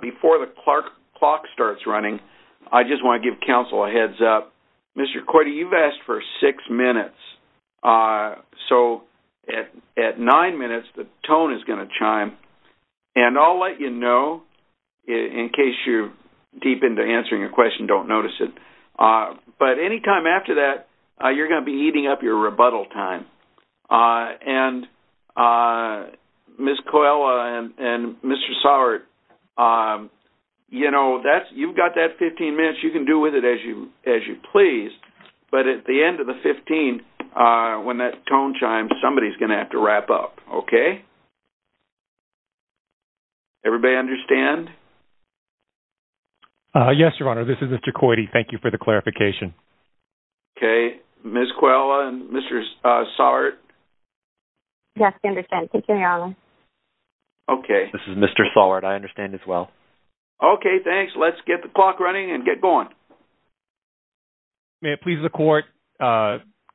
Before the clock starts running, I just want to give counsel a heads up. Mr. Coyte, you've asked for six minutes, so at nine minutes, the tone is going to chime, and I'll let you know in case you're deep into answering a question and don't notice it. But any time after that, you're going to be eating up your rebuttal time. And Ms. Coella and Mr. Sauer, you know, you've got that 15 minutes. You can do with it as you please, but at the end of the 15, when that tone chimes, somebody's going to have to wrap up. Okay? Everybody understand? Yes, Your Honor. This is Mr. Coyte. Thank you for the clarification. Okay. Ms. Coella and Mr. Sauer? Yes, I understand. Continue, Your Honor. Okay. This is Mr. Sauer. I understand as well. Okay. Thanks. Let's get the clock running and get going. May it please the Court,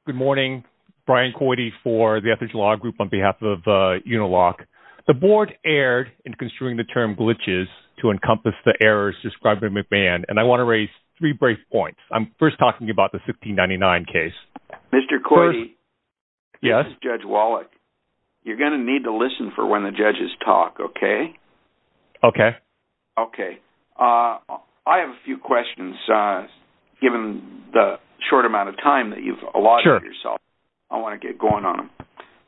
good morning. Brian Coyte for the Ethics and Law Group on behalf of Uniloc. The Board erred in construing the term glitches to encompass the errors described by McMahon, and I want to raise three brief points. I'm first talking about the 1599 case. Mr. Coyte? Yes? This is Judge Wallach. You're going to need to listen for when the judges talk, okay? Okay. Okay. I have a few questions, given the short amount of time that you've allotted yourself. Sure. I want to get going on them.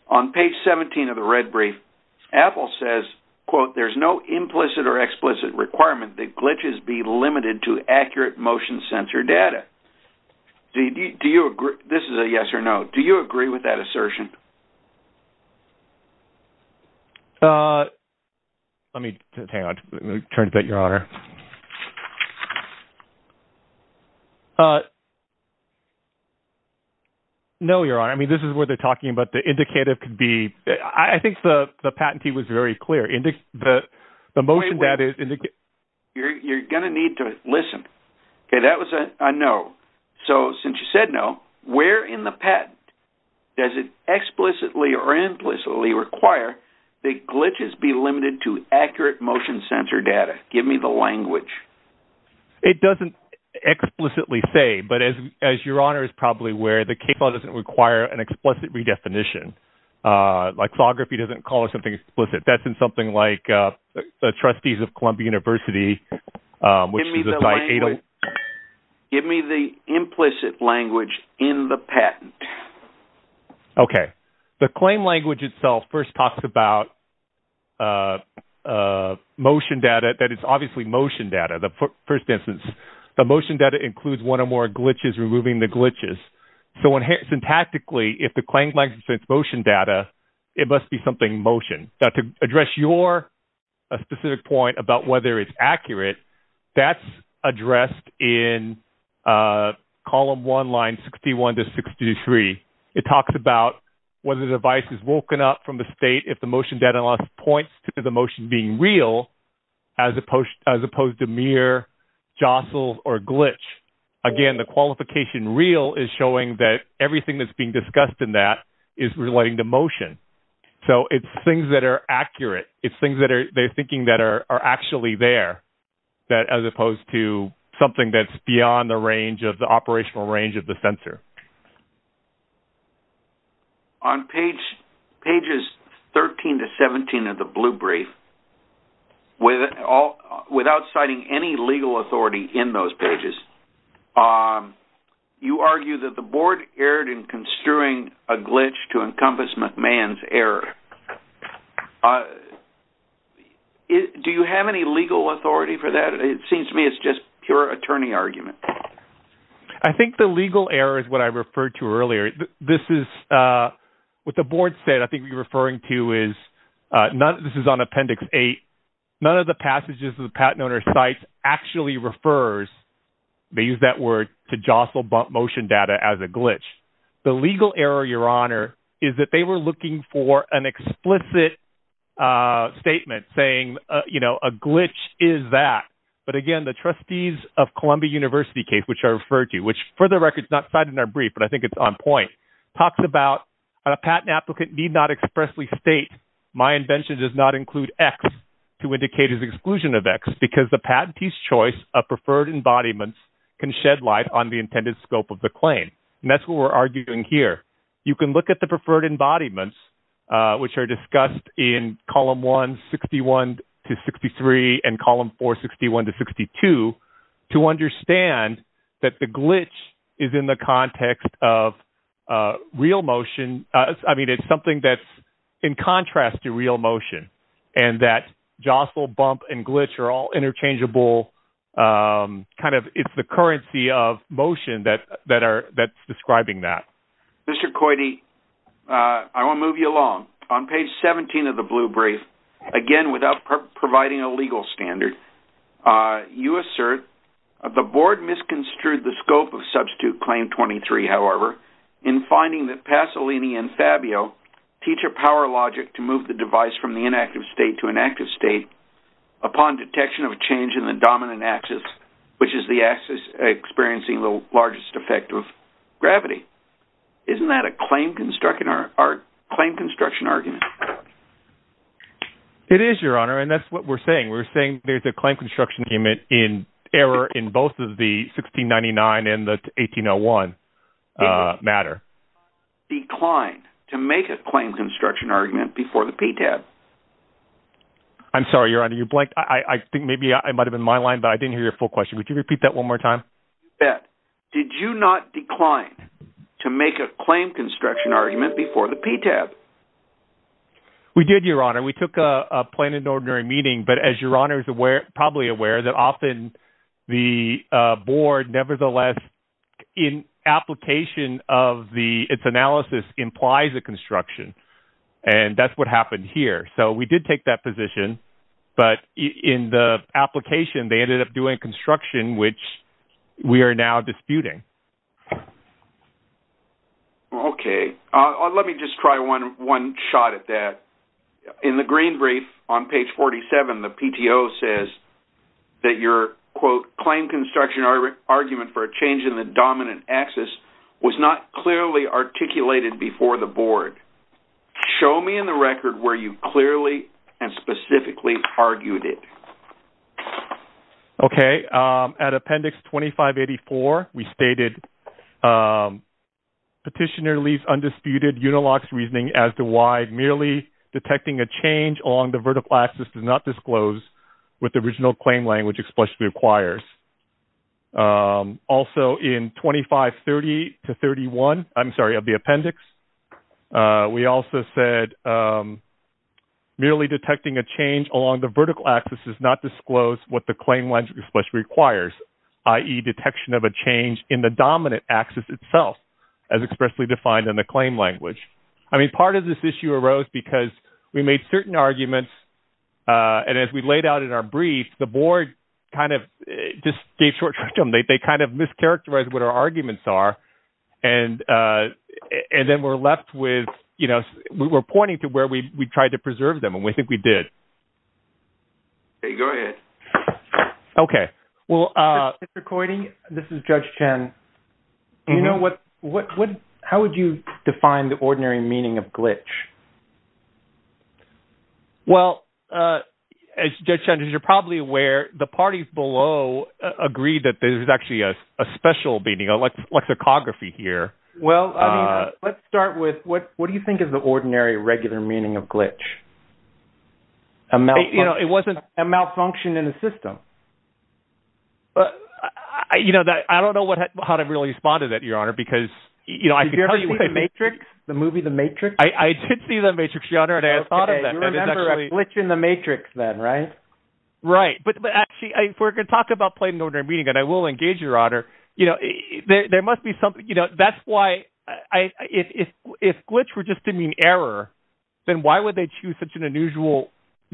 On page 17 of the red brief, Apple says, quote, there's no implicit or explicit requirement that glitches be limited to accurate motion sensor data. This is a yes or no. Do you agree with that assertion? Let me – hang on. Let me turn to that, Your Honor. No, Your Honor. I mean, this is where they're talking about the indicative could be – I think the patentee was very clear. You're going to need to listen. Okay, that was a no. So since you said no, where in the patent does it explicitly or implicitly require that glitches be limited to accurate motion sensor data? Give me the language. It doesn't explicitly say, but as Your Honor is probably aware, the case law doesn't require an explicit redefinition. Like, photography doesn't call it something explicit. That's in something like the trustees of Columbia University, which is a – Give me the language. Give me the implicit language in the patent. Okay, the claim language itself first talks about motion data, that it's obviously motion data, the first instance. The motion data includes one or more glitches, removing the glitches. So syntactically, if the claim language is motion data, it must be something motion. Now, to address your specific point about whether it's accurate, that's addressed in Column 1, Lines 61 to 63. It talks about whether the device is woken up from the state if the motion data points to the motion being real, as opposed to mere jostles or glitch. Again, the qualification real is showing that everything that's being discussed in that is relating to motion. So it's things that are accurate. It's things that they're thinking that are actually there, as opposed to something that's beyond the range of the operational range of the sensor. On pages 13 to 17 of the blue brief, without citing any legal authority in those pages, you argue that the board erred in construing a glitch to encompass McMahon's error. Do you have any legal authority for that? It seems to me it's just pure attorney argument. I think the legal error is what I referred to earlier. This is what the board said. I think what you're referring to is this is on Appendix 8. None of the passages of the patent owner's sites actually refers, they use that word, to jostle motion data as a glitch. The legal error, Your Honor, is that they were looking for an explicit statement saying, you know, a glitch is that. But again, the trustees of Columbia University case, which I referred to, which for the record is not cited in our brief, but I think it's on point, talks about a patent applicant need not expressly state, my invention does not include X to indicate his exclusion of X, because the patentee's choice of preferred embodiments can shed light on the intended scope of the claim. And that's what we're arguing here. You can look at the preferred embodiments, which are discussed in Column 1, 61 to 63, and Column 4, 61 to 62, to understand that the glitch is in the context of real motion. I mean, it's something that's in contrast to real motion, and that jostle, bump, and glitch are all interchangeable. It's the currency of motion that's describing that. Mr. Coide, I want to move you along. On page 17 of the blue brief, again, without providing a legal standard, you assert, the board misconstrued the scope of Substitute Claim 23, however, in finding that Pasolini and Fabio teach a power logic to move the device from the inactive state to an active state upon detection of change in the dominant axis, which is the axis experiencing the largest effect of gravity. Isn't that a claim construction argument? It is, Your Honor, and that's what we're saying. We're saying there's a claim construction argument in error in both of the 1699 and the 1801 matter. Did you not decline to make a claim construction argument before the PTAB? I'm sorry, Your Honor, you blanked. I think maybe it might have been my line, but I didn't hear your full question. Would you repeat that one more time? You bet. Did you not decline to make a claim construction argument before the PTAB? We did, Your Honor. We took a plain and ordinary meeting, but as Your Honor is probably aware, that often the board nevertheless, in application of its analysis, implies a construction, and that's what happened here. So we did take that position, but in the application, they ended up doing construction, which we are now disputing. Okay. Let me just try one shot at that. In the green brief on page 47, the PTO says that your, quote, claim construction argument for a change in the dominant axis was not clearly articulated before the board. Show me in the record where you clearly and specifically argued it. Okay. At Appendix 2584, we stated Petitioner leaves undisputed, uniloxed reasoning as to why merely detecting a change along the vertical axis does not disclose what the original claim language explicitly requires. Also in 2530 to 31, I'm sorry, of the appendix, we also said merely detecting a change along the vertical axis does not disclose what the claim language requires, i.e. detection of a change in the dominant axis itself as expressly defined in the claim language. I mean, part of this issue arose because we made certain arguments, and as we laid out in our brief, the board kind of just gave short shrug to them. They kind of mischaracterized what our arguments are, and then we're left with, you know, we're pointing to where we tried to preserve them, and we think we did. Okay. Go ahead. Okay. Well, Mr. Coyney, this is Judge Chen. Do you know what – how would you define the ordinary meaning of glitch? Well, Judge Chen, as you're probably aware, the parties below agreed that there's actually a special meaning, a lexicography here. Well, let's start with what do you think is the ordinary, regular meaning of glitch? A malfunction. It wasn't a malfunction in the system. You know, I don't know how to really respond to that, Your Honor, because – Did you ever see The Matrix? The movie The Matrix? I did see The Matrix, Your Honor, and I had thought of that. Okay. You remember a glitch in The Matrix then, right? Right. But actually, if we're going to talk about plain ordinary meaning, and I will engage, Your Honor, you know, there must be something – you know, that's why I – if glitch were just to mean error, then why would they choose such an unusual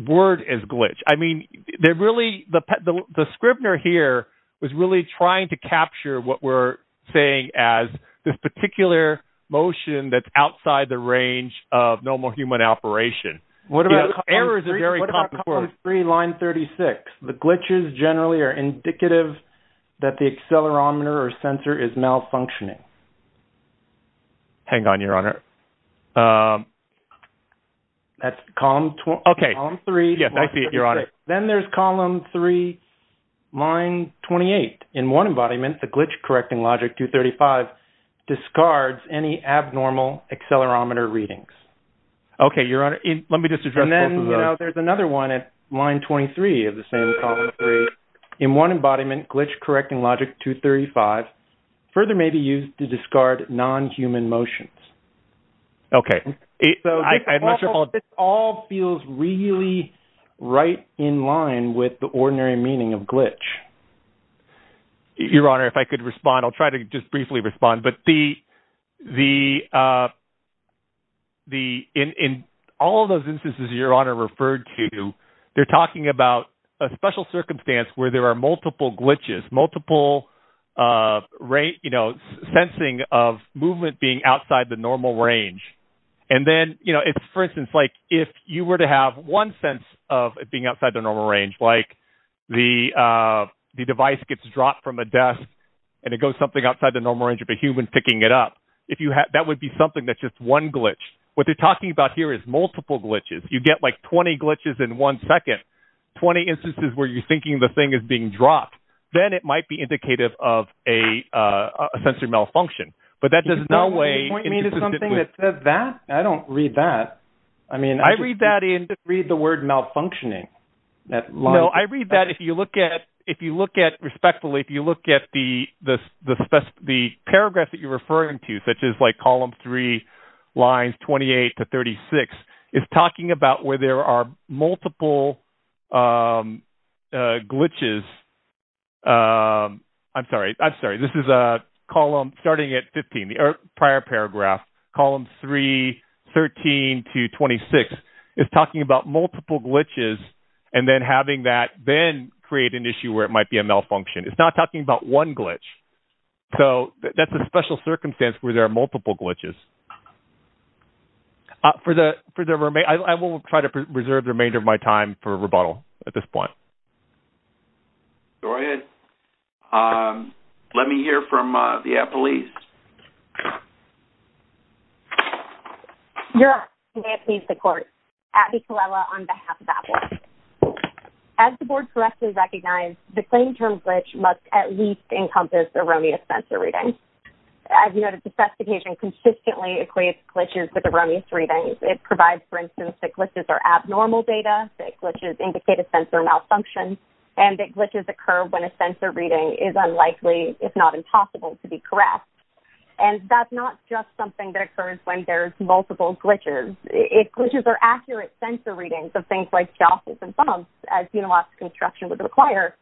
word as glitch? I mean, they're really – the Scribner here was really trying to capture what we're saying as this particular motion that's outside the range of normal human operation. Errors are very common. What about column 3, line 36? The glitches generally are indicative that the accelerometer or sensor is malfunctioning. Hang on, Your Honor. That's column 3, line 36. Okay. Yes, I see it, Your Honor. Then there's column 3, line 28. In one embodiment, the glitch-correcting logic 235 discards any abnormal accelerometer readings. Okay, Your Honor. Let me just address both of those. And then, you know, there's another one at line 23 of the same column 3. In one embodiment, glitch-correcting logic 235 further may be used to discard non-human motions. Okay. So this all feels really right in line with the ordinary meaning of glitch. Your Honor, if I could respond. I'll try to just briefly respond. But the – in all of those instances Your Honor referred to, they're talking about a special circumstance where there are multiple glitches, multiple, you know, sensing of movement being outside the normal range. And then, you know, for instance, like if you were to have one sense of it being outside the normal range, like the device gets dropped from a desk and it goes something outside the normal range of a human picking it up, that would be something that's just one glitch. What they're talking about here is multiple glitches. You get like 20 glitches in one second, 20 instances where you're thinking the thing is being dropped. Then it might be indicative of a sensory malfunction. Can you point me to something that says that? I don't read that. I mean, I read that in – I just read the word malfunctioning. No, I read that if you look at – if you look at – respectfully, if you look at the paragraph that you're referring to, such as like column 3, lines 28 to 36, it's talking about where there are multiple glitches. I'm sorry. I'm sorry. This is a column starting at 15, the prior paragraph, column 3, 13 to 26. It's talking about multiple glitches and then having that then create an issue where it might be a malfunction. It's not talking about one glitch. So that's a special circumstance where there are multiple glitches. For the – I will try to preserve the remainder of my time for rebuttal at this point. Go ahead. Let me hear from the AP police. You're up. May it please the court. Abby Colella on behalf of APPLE. As the board correctly recognized, the claim term glitch must at least encompass erroneous sensor reading. As you noted, the specification consistently equates glitches with erroneous readings. It provides, for instance, that glitches are abnormal data, that glitches indicate a sensor malfunction, and that glitches occur when a sensor reading is unlikely, if not impossible, to be correct. And that's not just something that occurs when there's multiple glitches. If glitches are accurate sensor readings of things like jostles and bumps, as Unilocks construction would require,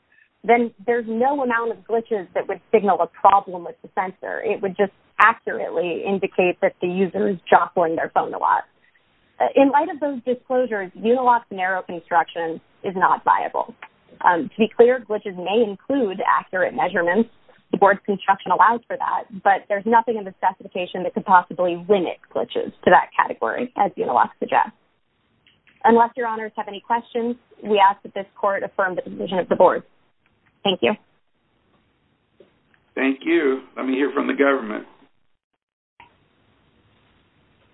then there's no amount of glitches that would signal a problem with the sensor. It would just accurately indicate that the user is jostling their phone a lot. In light of those disclosures, Unilocks narrow construction is not viable. To be clear, glitches may include accurate measurements. The board's construction allows for that. But there's nothing in the specification that could possibly limit glitches to that category, as Unilocks suggests. Unless your honors have any questions, we ask that this court affirm the decision of the board. Thank you. Thank you. Let me hear from the government.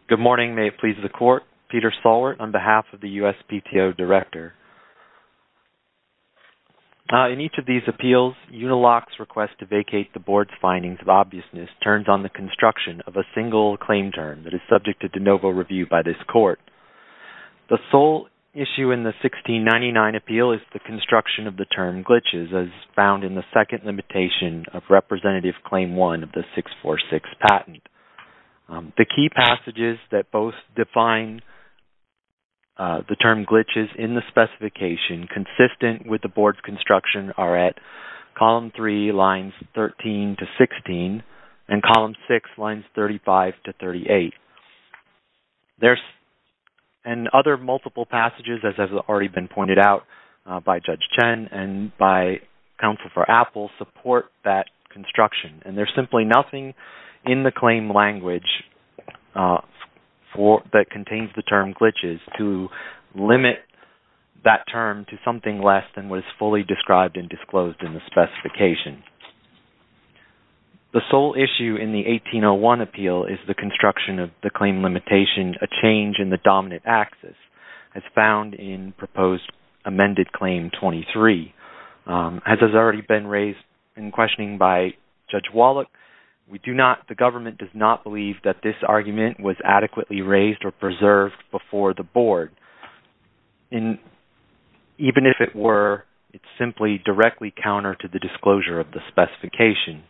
Good morning. May it please the court. Peter Stalwart on behalf of the USPTO Director. In each of these appeals, Unilocks' request to vacate the board's findings of obviousness turns on the construction of a single claim term that is subject to de novo review by this court. The sole issue in the 1699 appeal is the construction of the term glitches, as found in the second limitation of Representative Claim 1 of the 646 patent. The key passages that both define the term glitches in the specification consistent with the board's construction are at Columns 3, Lines 13-16 and Columns 6, Lines 35-38. And other multiple passages, as has already been pointed out by Judge Chen and by Counsel for Apple, support that construction. And there's simply nothing in the claim language that contains the term glitches to limit that term to something less than what is fully described and disclosed in the specification. The sole issue in the 1801 appeal is the construction of the claim limitation, a change in the dominant axis, as found in Proposed Amended Claim 23. As has already been raised in questioning by Judge Wallach, the government does not believe that this argument was adequately raised or preserved before the board. Even if it were, it's simply directly counter to the disclosure of the specification.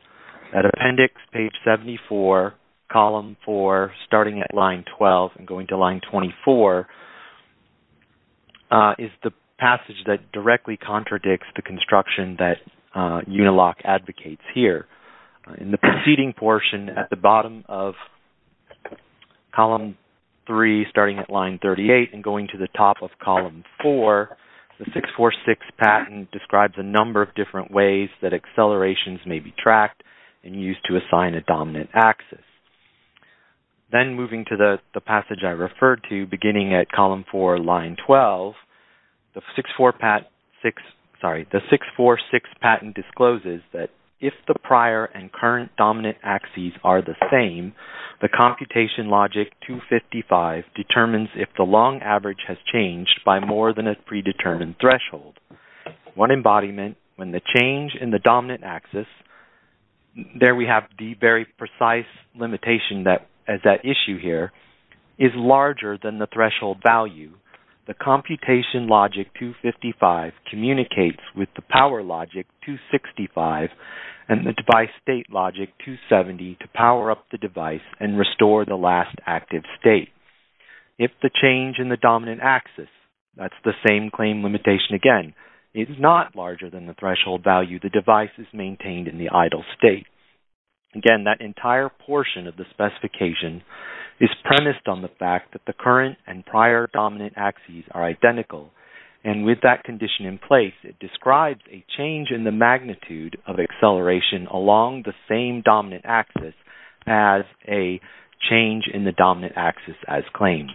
At Appendix, Page 74, Column 4, starting at Line 12 and going to Line 24, is the passage that directly contradicts the construction that Uniloc advocates here. In the preceding portion at the bottom of Column 3, starting at Line 38 and going to the top of Column 4, the 646 patent describes a number of different ways that accelerations may be tracked and used to assign a dominant axis. Then, moving to the passage I referred to, beginning at Column 4, Line 12, the 646 patent discloses that if the prior and current dominant axes are the same, the computation logic 255 determines if the long average has changed by more than a predetermined threshold. One embodiment, when the change in the dominant axis, there we have the very precise limitation as that issue here, is larger than the threshold value, the computation logic 255 communicates with the power logic 265 and the device state logic 270 to power up the device and restore the last active state. If the change in the dominant axis, that's the same claim limitation again, is not larger than the threshold value, the device is maintained in the idle state. Again, that entire portion of the specification is premised on the fact that the current and prior dominant axes are identical and with that condition in place, it describes a change in the magnitude of acceleration along the same dominant axis as a change in the dominant axis as claimed.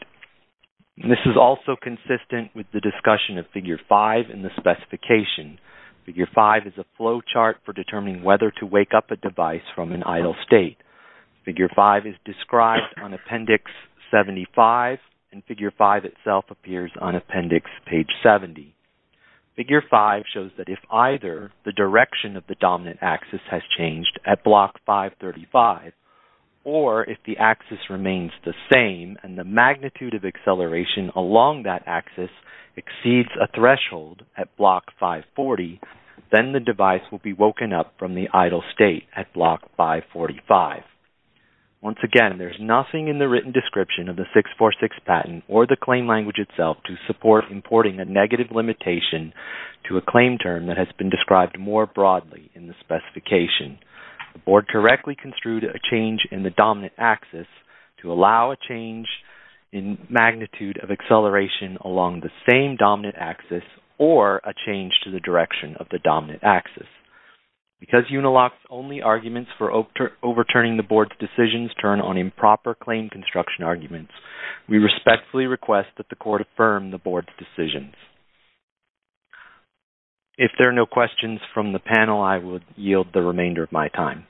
This is also consistent with the discussion of Figure 5 in the specification. Figure 5 is a flow chart for determining whether to wake up a device from an idle state. Figure 5 is described on Appendix 75 and Figure 5 itself appears on Appendix page 70. Figure 5 shows that if either the direction of the dominant axis has changed at Block 535 or if the axis remains the same and the magnitude of acceleration along that axis exceeds a threshold at Block 540, then the device will be woken up from the idle state at Block 545. Once again, there is nothing in the written description of the 646 patent or the claim language itself to support importing a negative limitation to a claim term that has been described more broadly in the specification. The Board correctly construed a change in the dominant axis to allow a change in magnitude of acceleration along the same dominant axis or a change to the direction of the dominant axis. Because Unilock's only arguments for overturning the Board's decisions turn on improper claim construction arguments, we respectfully request that the Court affirm the Board's decisions. If there are no questions from the panel, I would yield the remainder of my time.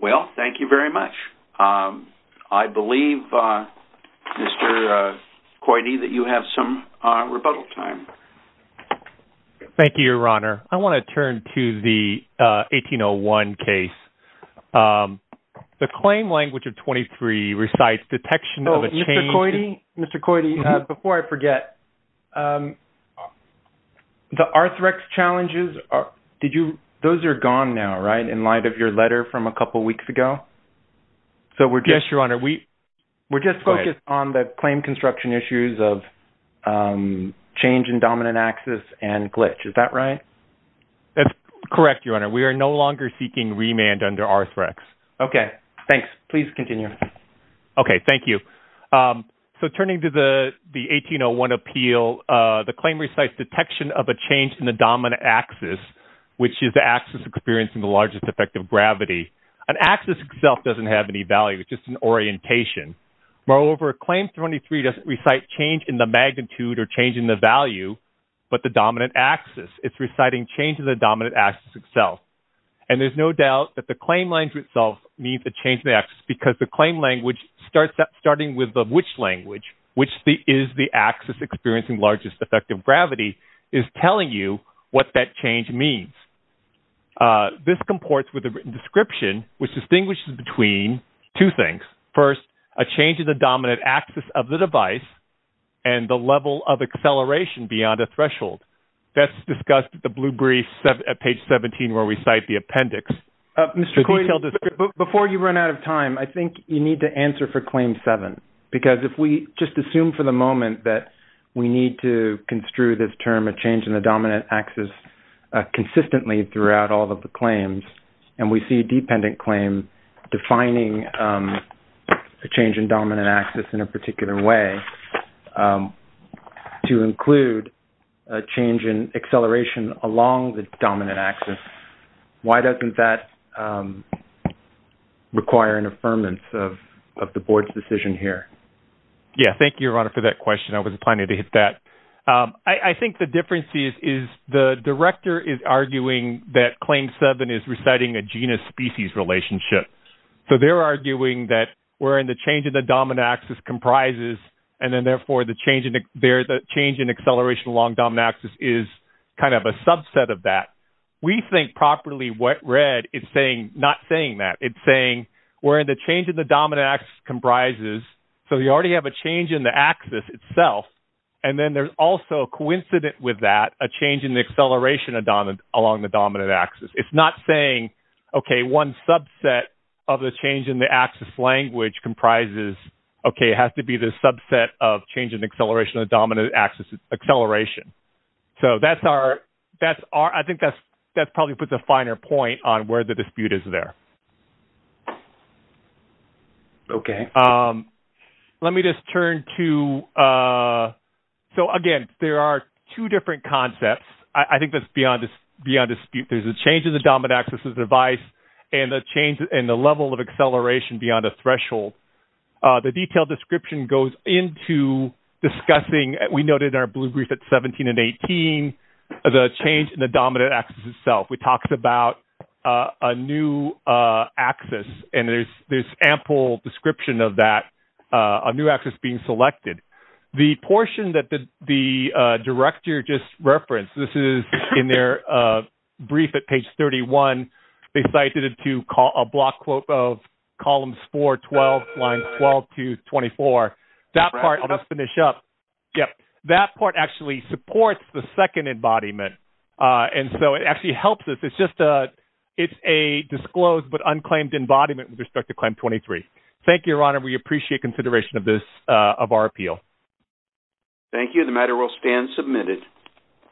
Well, thank you very much. I believe, Mr. Coide, that you have some rebuttal time. Thank you, Your Honor. I want to turn to the 1801 case. The claim language of 23 recites detection of a change... Mr. Coide, before I forget, the Arthrex challenges, those are gone now, right, in light of your letter from a couple weeks ago? Yes, Your Honor. We're just focused on the claim construction issues of change in dominant axis and glitch. Is that right? That's correct, Your Honor. We are no longer seeking remand under Arthrex. Okay. Thanks. Please continue. Okay. Thank you. So turning to the 1801 appeal, the claim recites detection of a change in the dominant axis, which is the axis experiencing the largest effect of gravity. An axis itself doesn't have any value. It's just an orientation. Moreover, Claim 23 doesn't recite change in the magnitude or change in the value, but the dominant axis. It's reciting change in the dominant axis itself. And there's no doubt that the claim language itself means a change in the axis, because the claim language, starting with the which language, which is the axis experiencing largest effect of gravity, is telling you what that change means. This comports with the written description, which distinguishes between two things. First, a change in the dominant axis of the device and the level of acceleration beyond a threshold. That's discussed at the blue brief at page 17 where we cite the appendix. Mr. Coyne, before you run out of time, I think you need to answer for Claim 7. Because if we just assume for the moment that we need to construe this term, a change in the dominant axis, consistently throughout all of the claims, and we see a dependent claim defining a change in dominant axis in a particular way to include a change in acceleration along the dominant axis, why doesn't that require an affirmance of the board's decision here? Yes. Thank you, Your Honor, for that question. I wasn't planning to hit that. I think the difference is the director is arguing that Claim 7 is reciting a genus-species relationship. So they're arguing that we're in the change in the dominant axis comprises, and then, therefore, the change in acceleration along dominant axis is kind of a subset of that. We think properly what Red is saying, not saying that. It's saying we're in the change in the dominant axis comprises, so you already have a change in the axis itself. And then there's also, coincident with that, a change in the acceleration along the dominant axis. It's not saying, okay, one subset of the change in the axis language comprises, okay, it has to be the subset of change in acceleration of dominant axis acceleration. So that's our – I think that probably puts a finer point on where the dispute is there. Okay. Let me just turn to – so, again, there are two different concepts. I think that's beyond dispute. There's a change in the dominant axis device and a change in the level of acceleration beyond a threshold. The detailed description goes into discussing, we noted in our blue brief at 17 and 18, the change in the dominant axis itself. We talked about a new axis, and there's ample description of that, a new axis being selected. The portion that the director just referenced, this is in their brief at page 31. They cited it to a block quote of columns 4, 12, lines 12 to 24. That part – I'll just finish up. That part actually supports the second embodiment, and so it actually helps us. It's just a – it's a disclosed but unclaimed embodiment with respect to claim 23. Thank you, Your Honor. We appreciate consideration of this – of our appeal. Thank you. The matter will stand submitted.